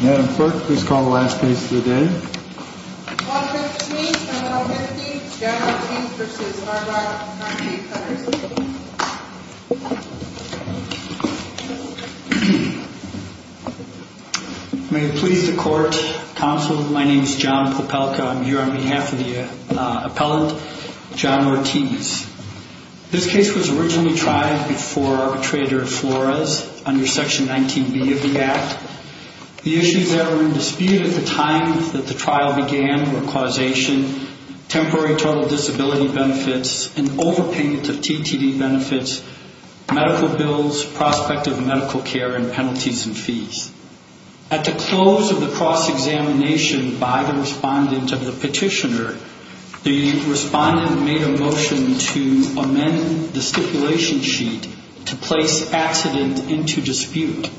Madam Clerk, please call the last case of the day. Clause 15, Senate Bill 15, John Ortiz v. Arbrock v. Petters May it please the Court, Counsel, my name is John Popelka, I'm here on behalf of the appellant, John Ortiz. This case was originally tried before Arbitrator Flores under Section 19B of the Act. The issues that were in dispute at the time that the trial began were causation, temporary total disability benefits, an overpayment of TTD benefits, medical bills, prospect of medical care, and penalties and fees. At the close of the cross-examination by the respondent of the petitioner, the respondent made a motion to amend the stipulation sheet to place accident into dispute.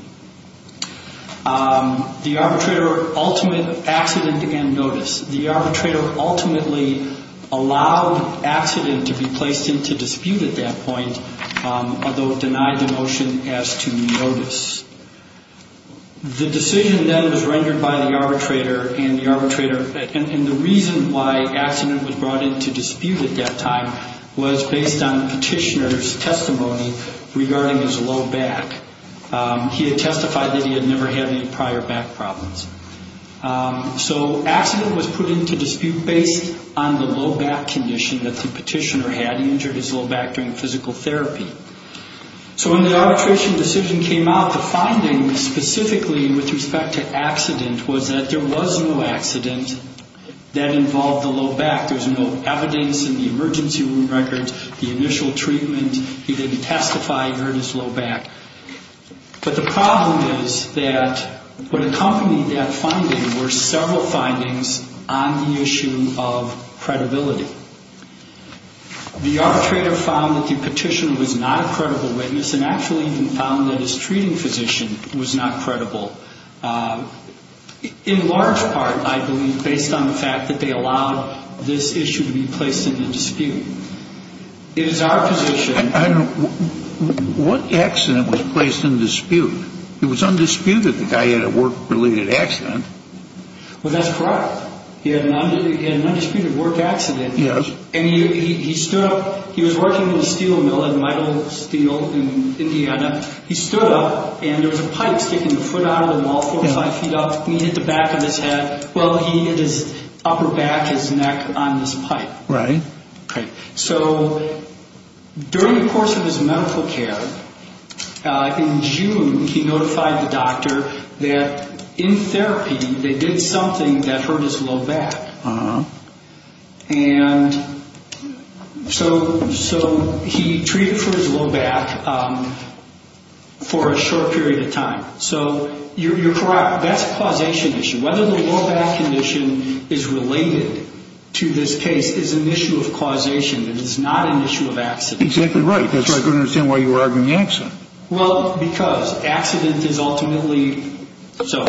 The arbitrator ultimately accident began notice. The arbitrator ultimately allowed accident to be placed into dispute at that point, although it denied the motion as to notice. The decision then was rendered by the arbitrator, and the reason why accident was brought into dispute at that time was based on the petitioner's testimony regarding his low back. He had testified that he had never had any prior back problems. So accident was put into dispute based on the low back condition that the petitioner had. So when the arbitration decision came out, the finding specifically with respect to accident was that there was no accident that involved the low back. There's no evidence in the emergency room records, the initial treatment. He didn't testify he hurt his low back. But the problem is that what accompanied that finding were several findings on the issue of credibility. The arbitrator found that the petitioner was not a credible witness and actually even found that his treating physician was not credible. In large part, I believe, based on the fact that they allowed this issue to be placed into dispute. It is our position. I don't know. What accident was placed into dispute? It was undisputed the guy had a work-related accident. Well, that's correct. He had an undisputed work accident. Yes. And he stood up. He was working in a steel mill in Middle Steel in Indiana. He stood up, and there was a pipe sticking a foot out of the wall four or five feet up. He hit the back of his head. Well, he hit his upper back, his neck on this pipe. Right. Right. So during the course of his medical care, in June, he notified the doctor that in therapy they did something that hurt his low back. And so he treated for his low back for a short period of time. So you're correct. That's a causation issue. Whether the low back condition is related to this case is an issue of causation. It is not an issue of accident. Exactly right. That's why I couldn't understand why you were arguing accident. Well, because accident is ultimately so.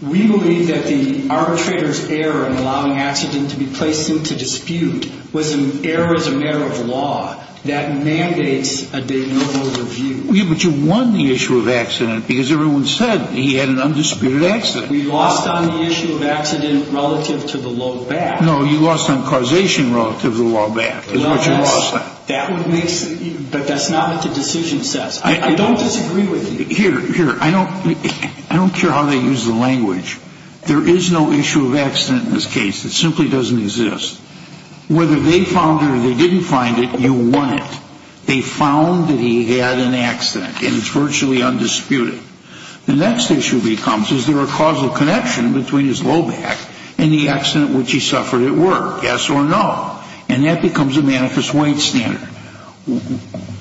We believe that the arbitrator's error in allowing accident to be placed into dispute was an error as a matter of law that mandates a de novo review. Yeah, but you won the issue of accident because everyone said he had an undisputed accident. We lost on the issue of accident relative to the low back. No, you lost on causation relative to the low back. That's what you lost on. But that's not what the decision says. I don't disagree with you. Here, I don't care how they use the language. There is no issue of accident in this case. It simply doesn't exist. Whether they found it or they didn't find it, you won it. They found that he had an accident, and it's virtually undisputed. The next issue becomes is there a causal connection between his low back and the accident which he suffered at work, yes or no? And that becomes a manifest weight standard.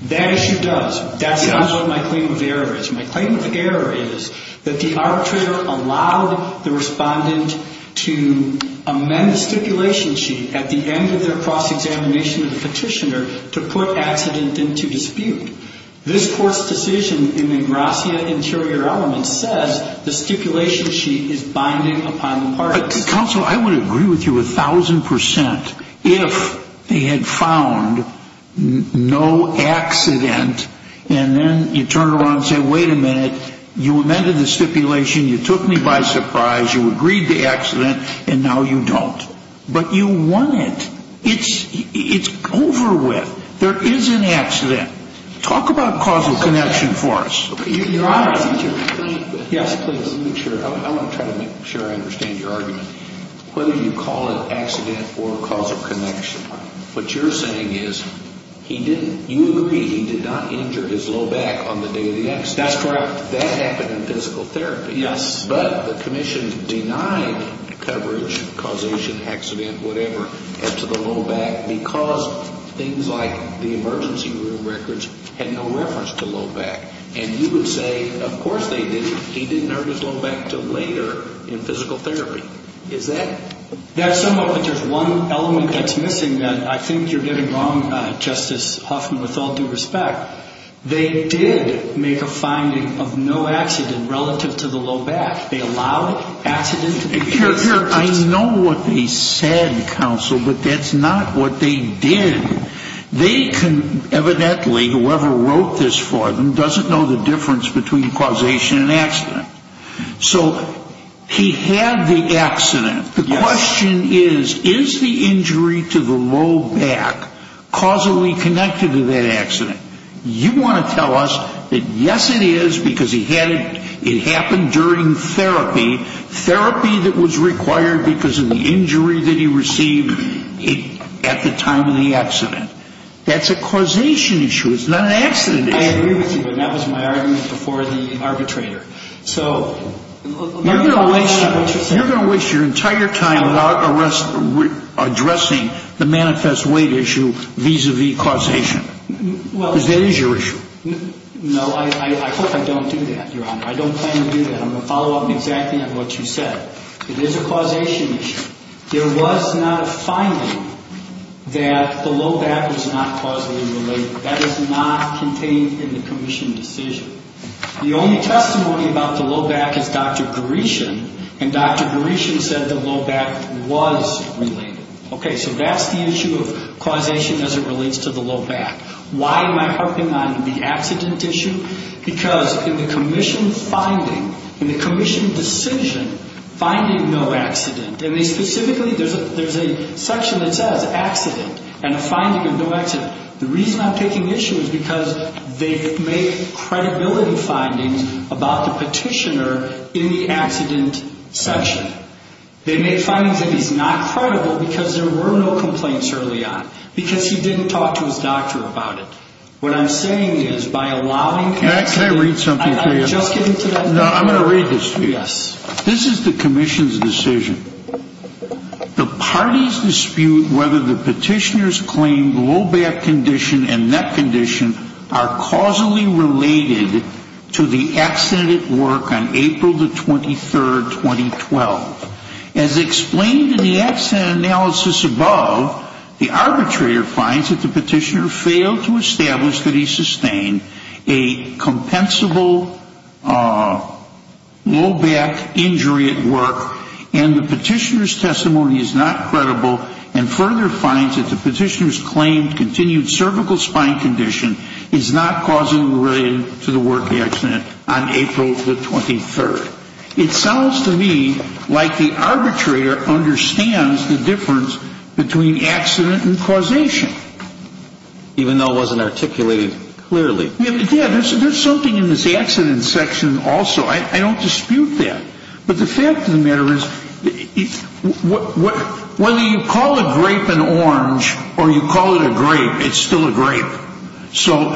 That issue does. That's not what my claim of error is. My claim of error is that the arbitrator allowed the respondent to amend the stipulation sheet at the end of their cross-examination of the petitioner to put accident into dispute. This court's decision in the Gracia Interior Elements says the stipulation sheet is binding upon the parties. Counsel, I would agree with you a thousand percent if they had found no accident, and then you turn around and say, wait a minute, you amended the stipulation, you took me by surprise, you agreed to accident, and now you don't. But you won it. It's over with. There is an accident. Talk about causal connection for us. Yes, please. I want to try to make sure I understand your argument. Whether you call it accident or causal connection, what you're saying is he didn't, you agree he did not injure his low back on the day of the accident. That's correct. That happened in physical therapy. Yes. But the commission denied coverage, causation, accident, whatever, to the low back because things like the emergency room records had no reference to low back. And you would say, of course they didn't. He didn't hurt his low back until later in physical therapy. Is that? That's somewhat, but there's one element that's missing that I think you're getting wrong, Justice Huffman, with all due respect. They did make a finding of no accident relative to the low back. They allowed accident. I know what they said, counsel, but that's not what they did. They can evidently, whoever wrote this for them, doesn't know the difference between causation and accident. So he had the accident. The question is, is the injury to the low back causally connected to that accident? You want to tell us that, yes, it is because it happened during therapy, therapy that was required because of the injury that he received at the time of the accident. That's a causation issue. It's not an accident issue. I agree with you, but that was my argument before the arbitrator. So I'm not interested. You're going to waste your entire time addressing the manifest weight issue vis-à-vis causation because that is your issue. No, I hope I don't do that, Your Honor. I don't plan to do that. I'm going to follow up exactly on what you said. It is a causation issue. There was not a finding that the low back was not causally related. That is not contained in the commission decision. The only testimony about the low back is Dr. Gaurishan, and Dr. Gaurishan said the low back was related. Okay, so that's the issue of causation as it relates to the low back. Why am I harping on the accident issue? Because in the commission finding, in the commission decision, finding no accident, and they specifically, there's a section that says accident and a finding of no accident. The reason I'm taking issue is because they make credibility findings about the petitioner in the accident section. They make findings that he's not credible because there were no complaints early on, because he didn't talk to his doctor about it. What I'm saying is, by allowing accident Can I read something to you? Just get into that. No, I'm going to read this to you. Yes. This is the commission's decision. The parties dispute whether the petitioner's claimed low back condition and neck condition are causally related to the accident at work on April the 23rd, 2012. As explained in the accident analysis above, the arbitrator finds that the petitioner failed to establish that he sustained a compensable low back injury at work, and the petitioner's testimony is not credible, and further finds that the petitioner's claimed continued cervical spine condition is not causally related to the work accident on April the 23rd. It sounds to me like the arbitrator understands the difference between accident and causation. Even though it wasn't articulated clearly. Yeah, there's something in this accident section also. I don't dispute that. But the fact of the matter is, whether you call a grape an orange or you call it a grape, it's still a grape. So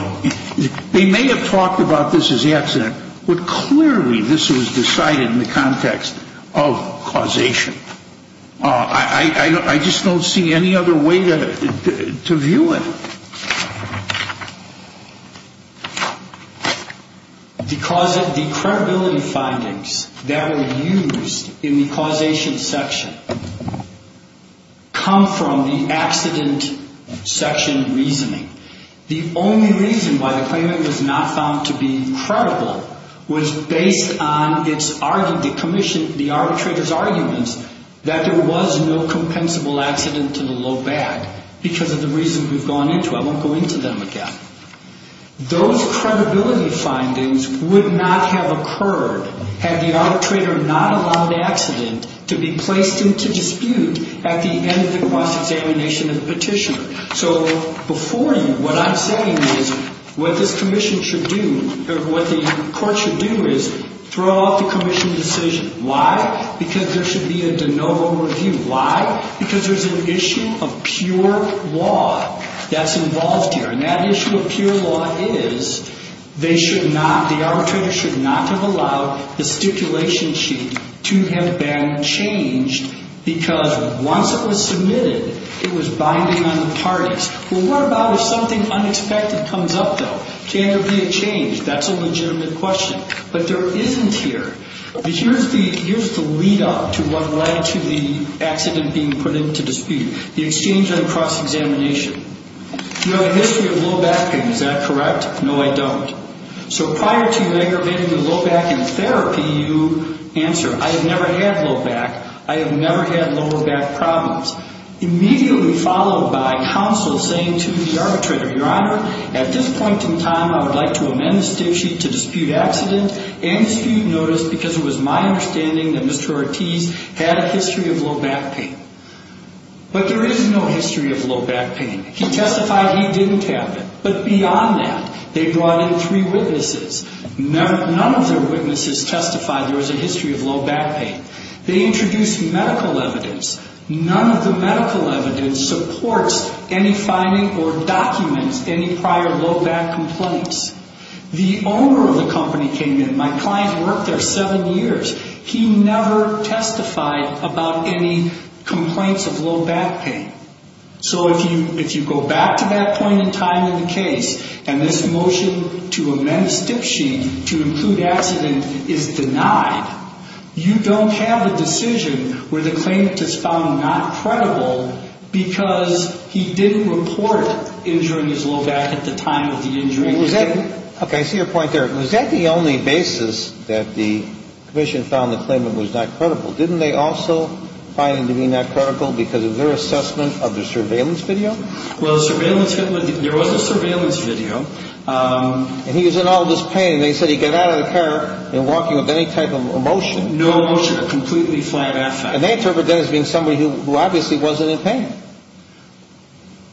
they may have talked about this as accident, but clearly this was decided in the context of causation. I just don't see any other way to view it. The credibility findings that are used in the causation section come from the accident section reasoning. The only reason why the claimant was not found to be credible was based on the arbitrator's arguments that there was no compensable accident to the low back because of the reasons we've gone into. I won't go into them again. Those credibility findings would not have occurred had the arbitrator not allowed the accident to be placed into dispute at the end of the cross-examination of the petitioner. So before you, what I'm saying is what this commission should do, or what the court should do is throw out the commission decision. Why? Because there should be a de novo review. Why? Because there's an issue of pure law that's involved here. And that issue of pure law is they should not, the arbitrator should not have allowed the stipulation sheet to have been changed because once it was submitted, it was binding on the parties. Well, what about if something unexpected comes up, though? Can there be a change? That's a legitimate question. But there isn't here. Here's the lead up to what led to the accident being put into dispute. The exchange on cross-examination. You know the history of low backing, is that correct? No, I don't. So prior to negatively low backing therapy, you answer, I have never had low back. I have never had lower back problems. Immediately followed by counsel saying to the arbitrator, Your Honor, at this point in time, I would like to amend the stip sheet to dispute accident and dispute notice because it was my understanding that Mr. Ortiz had a history of low back pain. But there is no history of low back pain. He testified he didn't have it. But beyond that, they brought in three witnesses. None of their witnesses testified there was a history of low back pain. They introduced medical evidence. None of the medical evidence supports any finding or documents any prior low back complaints. The owner of the company came in. My client worked there seven years. He never testified about any complaints of low back pain. So if you go back to that point in time in the case and this motion to amend the stip sheet to include accident is denied, you don't have a decision where the claimant is found not credible because he didn't report injuring his low back at the time of the injury. Okay. I see your point there. Was that the only basis that the commission found the claimant was not credible? Didn't they also find him to be not credible because of their assessment of the surveillance video? Well, there was a surveillance video. And he was in all this pain. They said he got out of the car and walking with any type of motion. No motion. A completely flat affect. And they interpret that as being somebody who obviously wasn't in pain.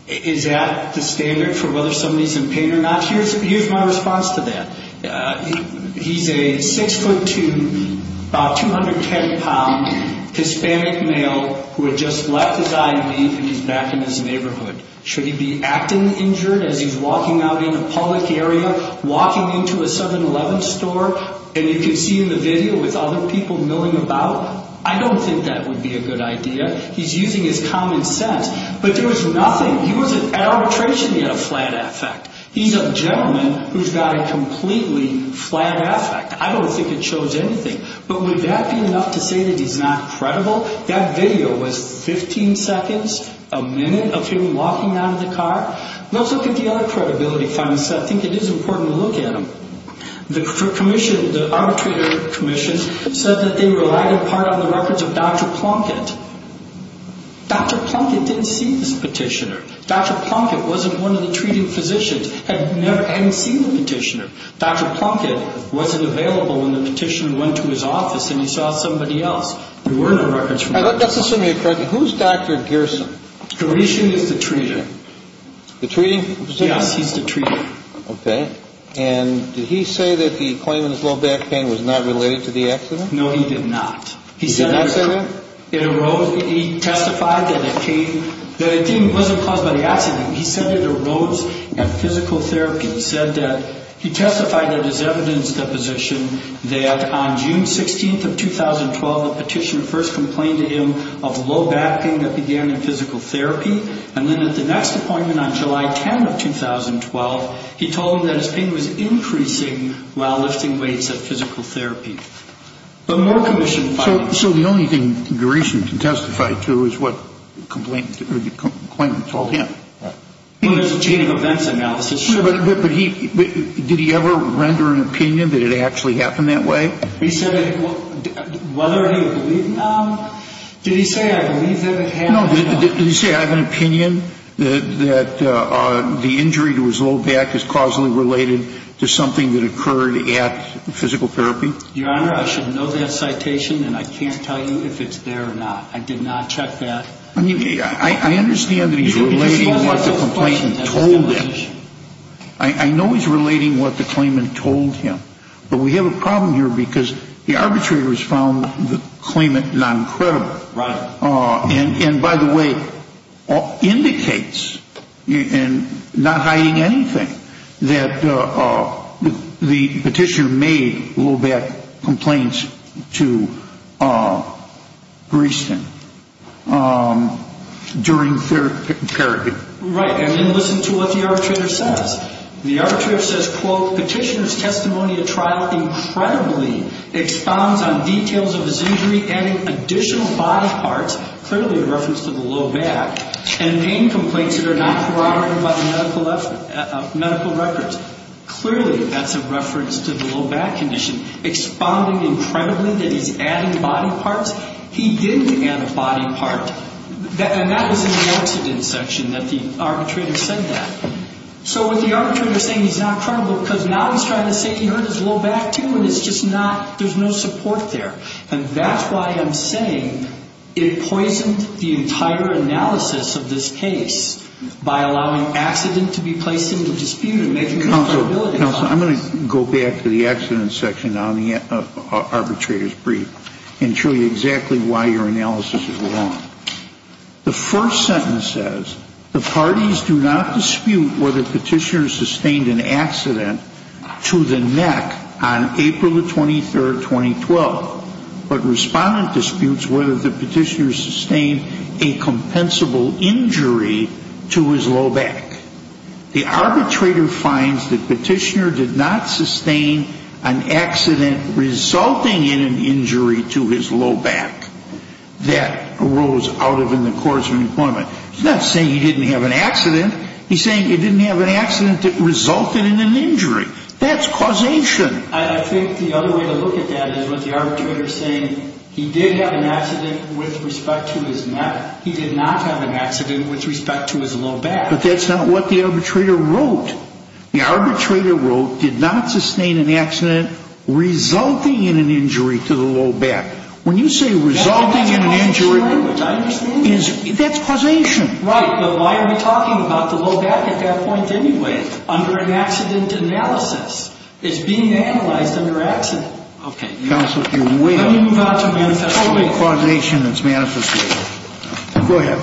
Is that the standard for whether somebody's in pain or not? Here's my response to that. He's a 6'2", about 210 pound, Hispanic male who had just left his I.E. leave and he's back in his neighborhood. Should he be acting injured as he's walking out in a public area, walking into a 7-Eleven store, and you can see in the video with other people milling about? I don't think that would be a good idea. He's using his common sense. But there was nothing. He wasn't at arbitration. He had a flat affect. He's a gentleman who's got a completely flat affect. I don't think it shows anything. But would that be enough to say that he's not credible? That video was 15 seconds, a minute, of him walking out of the car. Let's look at the other credibility findings. I think it is important to look at them. The arbitrator commission said that they relied in part on the records of Dr. Plunkett. Dr. Plunkett didn't see this petitioner. Dr. Plunkett wasn't one of the treating physicians, hadn't seen the petitioner. Dr. Plunkett wasn't available when the petitioner went to his office and he saw somebody else. There were no records from Dr. Plunkett. Let's assume you're correct. Who's Dr. Gerson? Gerson is the treater. The treating? Yes, he's the treater. Okay. And did he say that the claimant's low back pain was not related to the accident? No, he did not. He did not say that? He testified that it wasn't caused by the accident. He said it arose at physical therapy. He testified in his evidence deposition that on June 16th of 2012, the petitioner first complained to him of low back pain that began in physical therapy, and then at the next appointment on July 10th of 2012, he told him that his pain was increasing while lifting weights at physical therapy. So the only thing Gerson can testify to is what the complainant told him. Well, there's a chain of events analysis. But did he ever render an opinion that it actually happened that way? He said whether he would believe him. Did he say, I believe that it happened? No. Did he say, I have an opinion that the injury to his low back is causally related to something that occurred at physical therapy? Your Honor, I should know that citation, and I can't tell you if it's there or not. I did not check that. I understand that he's relating what the complainant told him. I know he's relating what the claimant told him. But we have a problem here because the arbitrator has found the claimant non-credible. Right. And, by the way, indicates, not hiding anything, that the petitioner made low back complaints to Gerson during therapy. Right. And then listen to what the arbitrator says. The arbitrator says, quote, clearly a reference to the low back. And pain complaints that are not corroborated by the medical records. Clearly that's a reference to the low back condition. Expounding incredibly that he's adding body parts. He didn't add a body part. And that was in the incident section that the arbitrator said that. So what the arbitrator is saying, he's not credible because now he's trying to say he hurt his low back, too, and it's just not, there's no support there. And that's why I'm saying it poisoned the entire analysis of this case by allowing accident to be placed into dispute. Counsel, I'm going to go back to the accident section on the arbitrator's brief and show you exactly why your analysis is wrong. The first sentence says, the parties do not dispute whether petitioner sustained an accident to the neck on April the 23rd, 2012. But respondent disputes whether the petitioner sustained a compensable injury to his low back. The arbitrator finds that petitioner did not sustain an accident resulting in an injury to his low back that arose out of in the course of employment. He's not saying he didn't have an accident. He's saying he didn't have an accident that resulted in an injury. That's causation. I think the other way to look at that is with the arbitrator saying he did have an accident with respect to his neck. He did not have an accident with respect to his low back. But that's not what the arbitrator wrote. The arbitrator wrote, did not sustain an accident resulting in an injury to the low back. When you say resulting in an injury, that's causation. Right. But why are we talking about the low back at that point anyway under an accident analysis? It's being analyzed under accident. Okay. Counsel, you're way off. Let me move on to manifestation. You're totally causation and it's manifestation. Go ahead.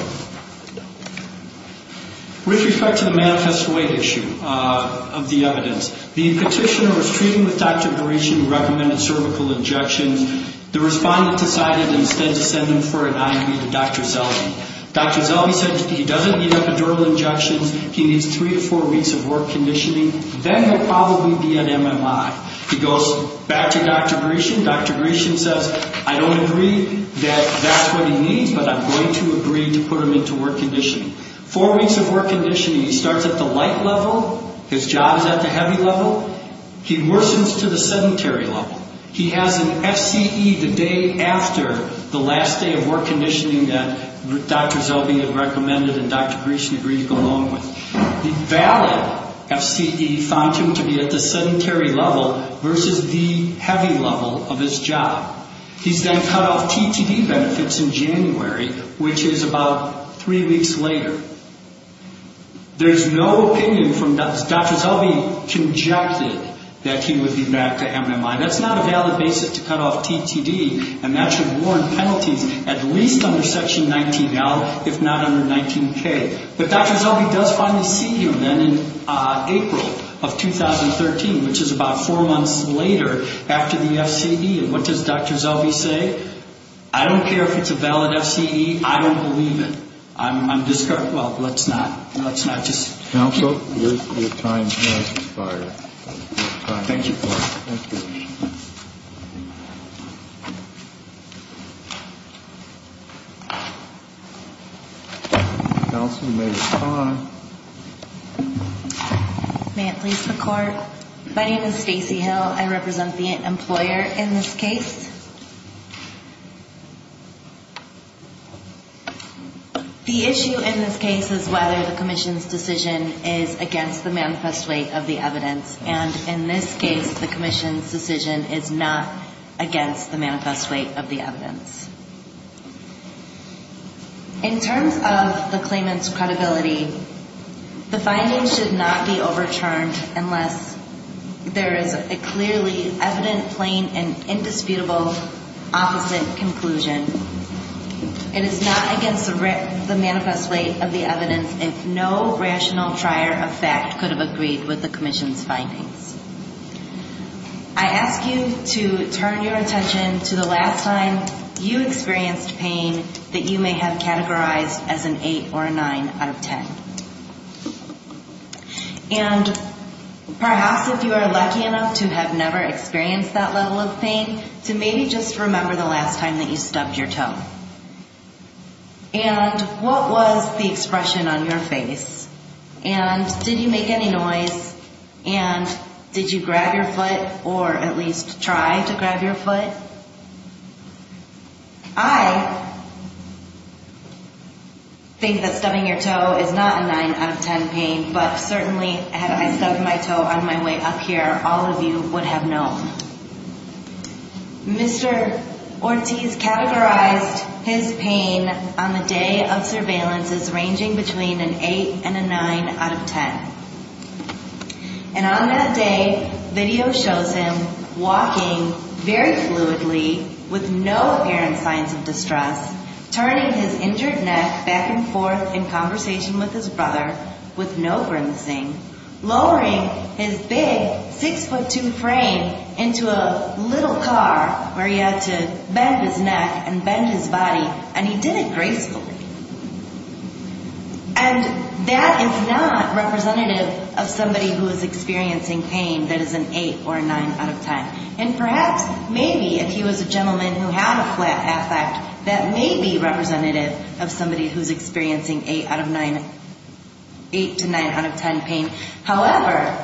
With respect to the manifest weight issue of the evidence, the petitioner was treating with Dr. Gresham who recommended cervical injections. The respondent decided instead to send him for an IV to Dr. Selby. Dr. Selby said he doesn't need epidural injections. He needs three to four weeks of work conditioning. Then he'll probably be at MMI. He goes back to Dr. Gresham. Dr. Gresham says, I don't agree that that's what he needs, but I'm going to agree to put him into work conditioning. Four weeks of work conditioning. He starts at the light level. His job is at the heavy level. He worsens to the sedentary level. He has an FCE the day after the last day of work conditioning that Dr. Selby had recommended and Dr. Gresham agreed to go along with. The valid FCE found him to be at the sedentary level versus the heavy level of his job. He's then cut off TTD benefits in January, which is about three weeks later. There's no opinion from Dr. Selby conjectured that he would be back to MMI. That's not a valid basis to cut off TTD and that should warrant penalties at least under Section 19L, if not under 19K. But Dr. Selby does finally see him then in April of 2013, which is about four months later after the FCE, and what does Dr. Selby say? I don't care if it's a valid FCE. I don't believe it. I'm disheartened. Well, let's not. Let's not just. Counsel, your time has expired. Thank you. Thank you. Counsel, you may respond. May it please the Court? My name is Stacey Hill. I represent the employer in this case. The issue in this case is whether the commission's decision is against the manifest weight of the evidence, and in this case the commission's decision is not against the manifest weight of the evidence. In terms of the claimant's credibility, the findings should not be overturned unless there is a clearly evident, plain, and indisputable opposite conclusion. It is not against the manifest weight of the evidence if no rational trier of fact could have agreed with the commission's findings. I ask you to turn your attention to the last time you experienced pain that you may have categorized as an 8 or a 9 out of 10. And perhaps if you are lucky enough to have never experienced that level of pain, to maybe just remember the last time that you stubbed your toe. And what was the expression on your face? And did you make any noise? And did you grab your foot or at least try to grab your foot? I think that stubbing your toe is not a 9 out of 10 pain, but certainly had I stubbed my toe on my way up here, all of you would have known. Mr. Ortiz categorized his pain on the day of surveillance as ranging between an 8 and a 9 out of 10. And on that day, video shows him walking very fluidly with no apparent signs of distress, turning his injured neck back and forth in conversation with his brother with no grimacing, lowering his big 6'2 frame into a little car where he had to bend his neck and bend his body, and he did it gracefully. And that is not representative of somebody who is experiencing pain that is an 8 or a 9 out of 10. And perhaps maybe if he was a gentleman who had a flat affect, that may be representative of somebody who is experiencing 8 to 9 out of 10 pain. However,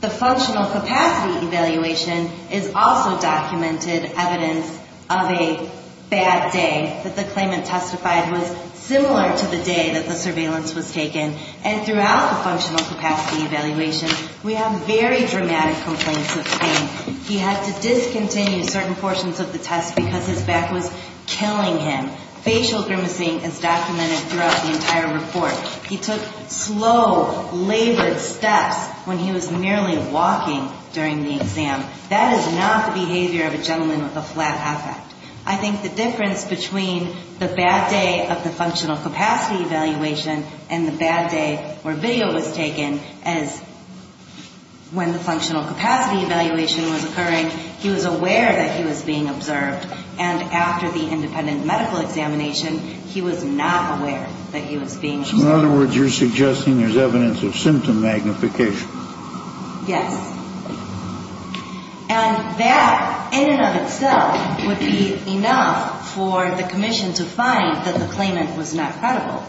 the functional capacity evaluation is also documented evidence of a bad day, that the claimant testified was similar to the day that the surveillance was taken. And throughout the functional capacity evaluation, we have very dramatic complaints of pain. He had to discontinue certain portions of the test because his back was killing him. Facial grimacing is documented throughout the entire report. He took slow, labored steps when he was merely walking during the exam. That is not the behavior of a gentleman with a flat affect. I think the difference between the bad day of the functional capacity evaluation and the bad day where video was taken as when the functional capacity evaluation was occurring, he was aware that he was being observed. And after the independent medical examination, he was not aware that he was being observed. So in other words, you're suggesting there's evidence of symptom magnification. Yes. And that in and of itself would be enough for the commission to find that the claimant was not credible.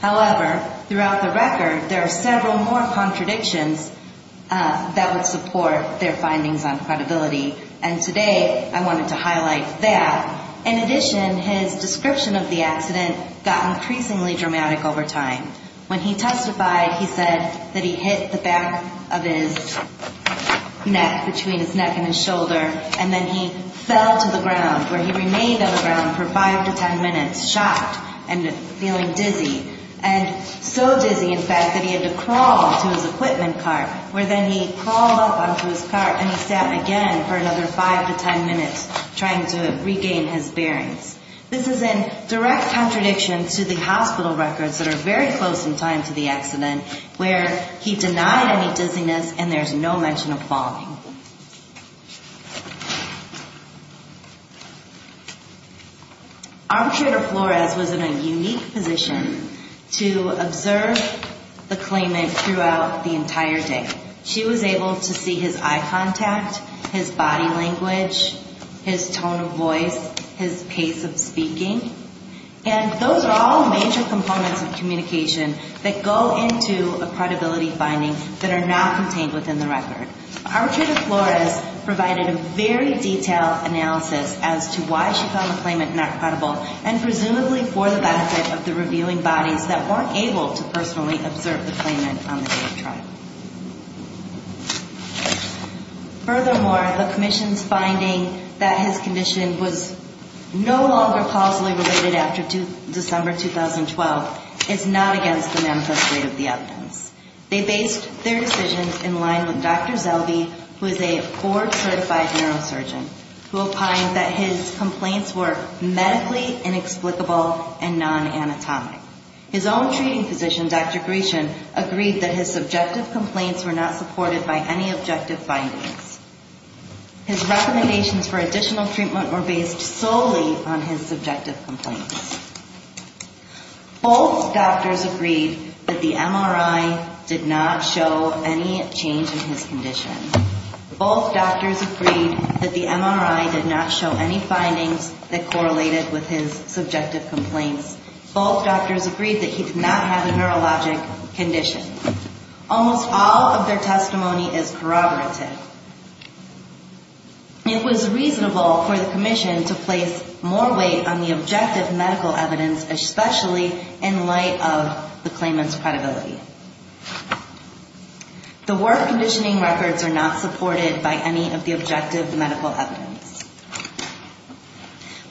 However, throughout the record, there are several more contradictions that would support their findings on credibility. And today, I wanted to highlight that. In addition, his description of the accident got increasingly dramatic over time. When he testified, he said that he hit the back of his neck, between his neck and his shoulder, and then he fell to the ground, where he remained on the ground for 5 to 10 minutes, shocked and feeling dizzy. And so dizzy, in fact, that he had to crawl onto his equipment cart, where then he crawled up onto his cart and he sat again for another 5 to 10 minutes trying to regain his bearings. This is in direct contradiction to the hospital records that are very close in time to the accident, where he denied any dizziness and there's no mention of falling. Arbitrator Flores was in a unique position to observe the claimant throughout the entire day. She was able to see his eye contact, his body language, his tone of voice, his pace of speaking. And those are all major components of communication that go into a credibility finding that are not contained within the record. Arbitrator Flores provided a very detailed analysis as to why she found the claimant not credible, and presumably for the benefit of the reviewing bodies that weren't able to personally observe the claimant on the day of trial. Furthermore, the Commission's finding that his condition was no longer positively related after December 2012 is not against the manifest rate of the evidence. They based their decisions in line with Dr. Zelbe, who is a board-certified neurosurgeon, who opined that his complaints were medically inexplicable and non-anatomic. His own treating physician, Dr. Gration, agreed that his subjective complaints were not supported by any objective findings. His recommendations for additional treatment were based solely on his subjective complaints. Both doctors agreed that the MRI did not show any change in his condition. Both doctors agreed that the MRI did not show any findings that correlated with his subjective complaints. Both doctors agreed that he did not have a neurologic condition. Almost all of their testimony is corroborative. It was reasonable for the Commission to place more weight on the objective medical evidence, especially in light of the claimant's credibility. The work conditioning records are not supported by any of the objective medical evidence.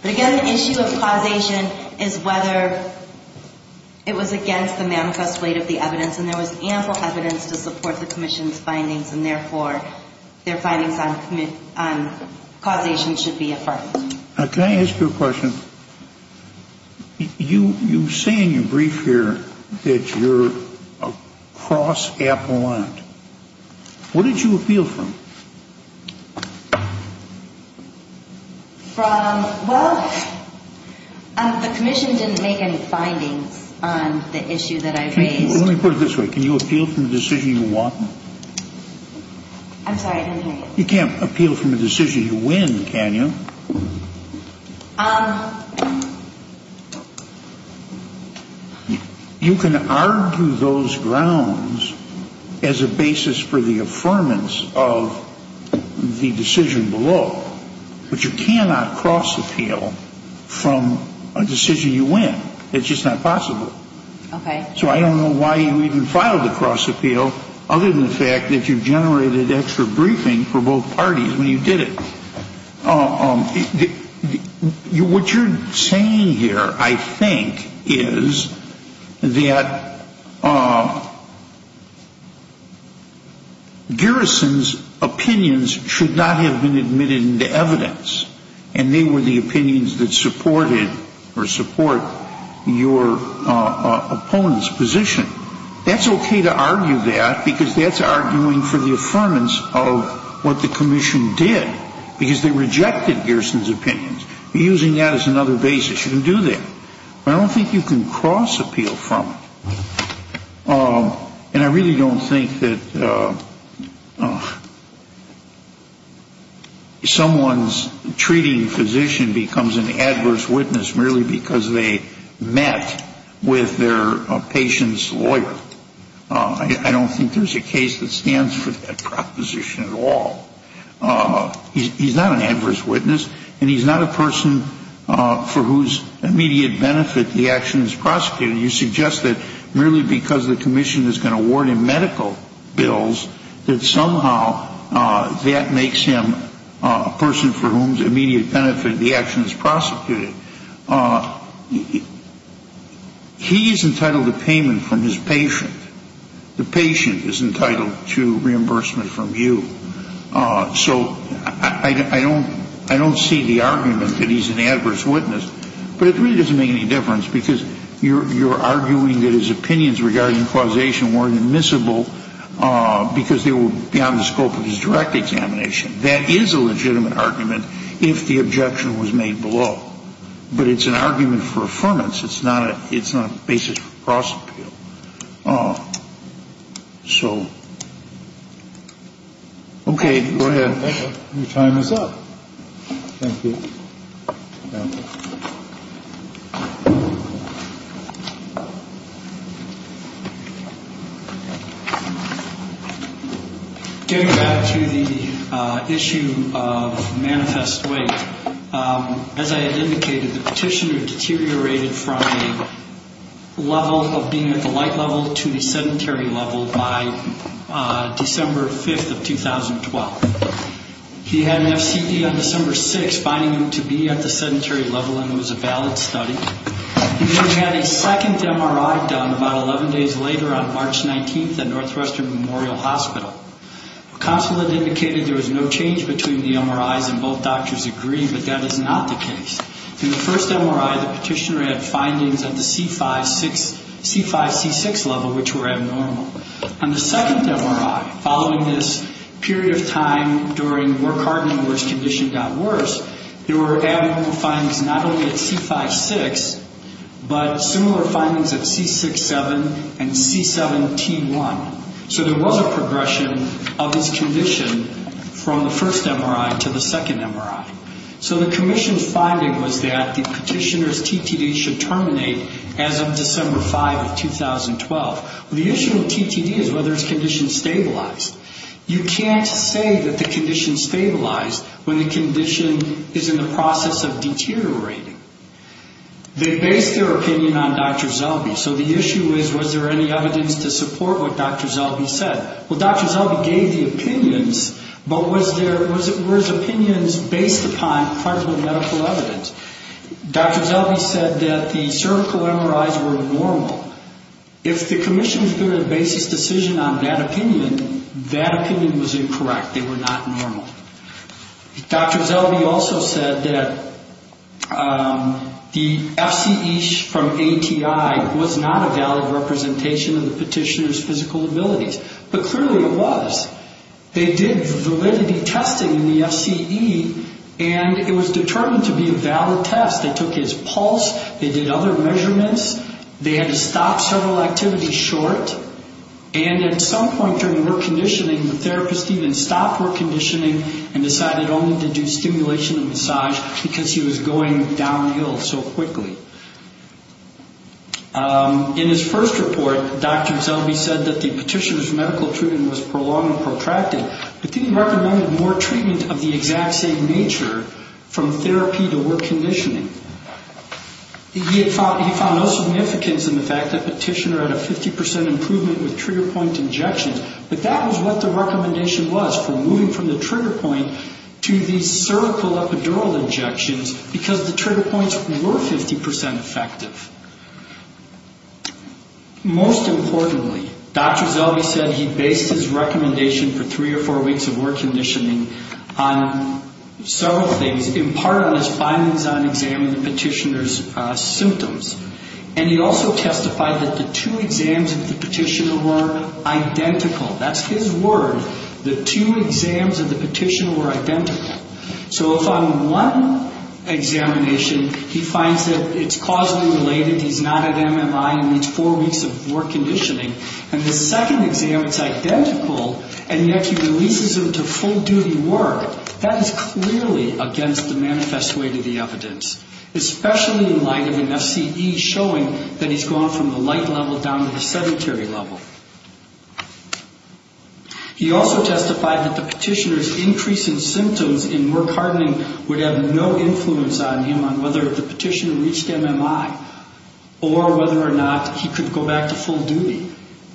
But again, the issue of causation is whether it was against the manifest rate of the evidence, and there was ample evidence to support the Commission's findings, and therefore their findings on causation should be affirmed. Can I ask you a question? You say in your brief here that you're a cross-appellant. Where did you appeal from? From, well, the Commission didn't make any findings on the issue that I raised. Let me put it this way. Can you appeal from the decision you want? I'm sorry, I didn't hear you. You can't appeal from a decision you win, can you? You can argue those grounds as a basis for the affirmance of the decision below, but you cannot cross-appeal from a decision you win. It's just not possible. So I don't know why you even filed a cross-appeal, other than the fact that you generated extra briefing for both parties when you did it. What you're saying here, I think, is that Garrison's opinions should not have been admitted into evidence, and they were the opinions that supported or support your opponent's position. That's okay to argue that, because that's arguing for the affirmance of what the Commission did, because they rejected Garrison's opinions. You're using that as another basis. You can do that. But I don't think you can cross-appeal from it. And I really don't think that someone's treating physician becomes an adverse witness merely because they met with their patient's lawyer. I don't think there's a case that stands for that proposition at all. He's not an adverse witness, and he's not a person for whose immediate benefit the action is prosecuted. You suggest that merely because the Commission is going to award him medical bills, that somehow that makes him a person for whose immediate benefit the action is prosecuted. He is entitled to payment from his patient. The patient is entitled to reimbursement from you. So I don't see the argument that he's an adverse witness. But it really doesn't make any difference, because you're arguing that his opinions regarding causation weren't admissible because they were beyond the scope of his direct examination. That is a legitimate argument if the objection was made below. But it's an argument for affirmance. It's not a basis for cross-appeal. So, okay, go ahead. Your time is up. Thank you. Getting back to the issue of manifest weight, as I had indicated, the petitioner deteriorated from a level of being at the light level to the sedentary level by December 5th of 2012. He had an FCD on December 6th, finding him to be at the sedentary level, and it was a valid study. He then had a second MRI done about 11 days later on March 19th at Northwestern Memorial Hospital. The consulate indicated there was no change between the MRIs, and both doctors agreed, but that is not the case. In the first MRI, the petitioner had findings at the C5-C6 level, which were abnormal. On the second MRI, following this period of time during work hard and worse condition got worse, there were abnormal findings not only at C5-6, but similar findings at C6-7 and C7-T1. So there was a progression of his condition from the first MRI to the second MRI. So the commission's finding was that the petitioner's TTD should terminate as of December 5th, 2012. The issue with TTD is whether his condition stabilized. You can't say that the condition stabilized when the condition is in the process of deteriorating. They based their opinion on Dr. Zellbe. So the issue is, was there any evidence to support what Dr. Zellbe said? Well, Dr. Zellbe gave the opinions, but were his opinions based upon credible medical evidence? Dr. Zellbe said that the cervical MRIs were normal. If the commission's given a basis decision on that opinion, that opinion was incorrect. They were not normal. Dr. Zellbe also said that the FCE from ATI was not a valid representation of the petitioner's physical abilities. But clearly it was. They did validity testing in the FCE, and it was determined to be a valid test. They took his pulse. They did other measurements. They had to stop several activities short. And at some point during work conditioning, the therapist even stopped work conditioning and decided only to do stimulation and massage because he was going downhill so quickly. In his first report, Dr. Zellbe said that the petitioner's medical treatment was prolonged and protracted, but then he recommended more treatment of the exact same nature from therapy to work conditioning. He found no significance in the fact that the petitioner had a 50% improvement with trigger point injections, but that was what the recommendation was for moving from the trigger point to the cervical epidural injections because the trigger points were 50% effective. Most importantly, Dr. Zellbe said he based his recommendation for three or four weeks of work conditioning on several things, in part on his findings on examining the petitioner's symptoms. And he also testified that the two exams of the petitioner were identical. That's his word. The two exams of the petitioner were identical. So upon one examination, he finds that it's causally related. He's not at MMI and needs four weeks of work conditioning. And the second exam, it's identical, and yet he releases him to full-duty work. That is clearly against the manifest way to the evidence, especially in light of an FCE showing that he's gone from the light level down to the sedentary level. He also testified that the petitioner's increase in symptoms in work hardening would have no influence on him on whether the petitioner reached MMI or whether or not he could go back to full duty.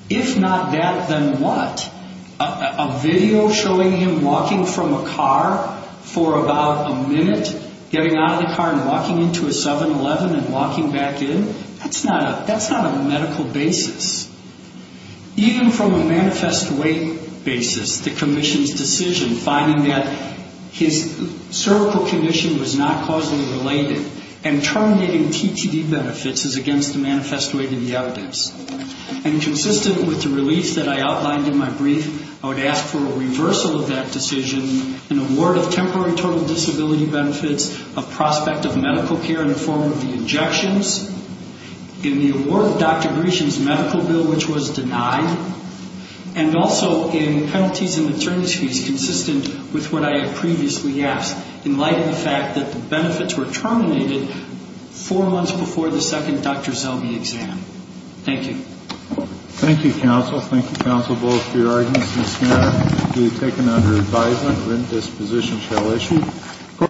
If not that, then what? A video showing him walking from a car for about a minute, getting out of the car and walking into a 7-Eleven and walking back in? That's not a medical basis. Even from a manifest way basis, the commission's decision, finding that his cervical condition was not causally related and terminating TTD benefits is against the manifest way to the evidence. And consistent with the release that I outlined in my brief, I would ask for a reversal of that decision, an award of temporary total disability benefits, a prospect of medical care in the form of the injections. In the award of Dr. Gresham's medical bill, which was denied, and also in penalties and maternity fees consistent with what I had previously asked in light of the fact that the benefits were terminated four months before the second Dr. Zelby exam. Thank you. Thank you, counsel. Thank you, counsel, both for your arguments. This matter will be taken under advisement. This position shall issue.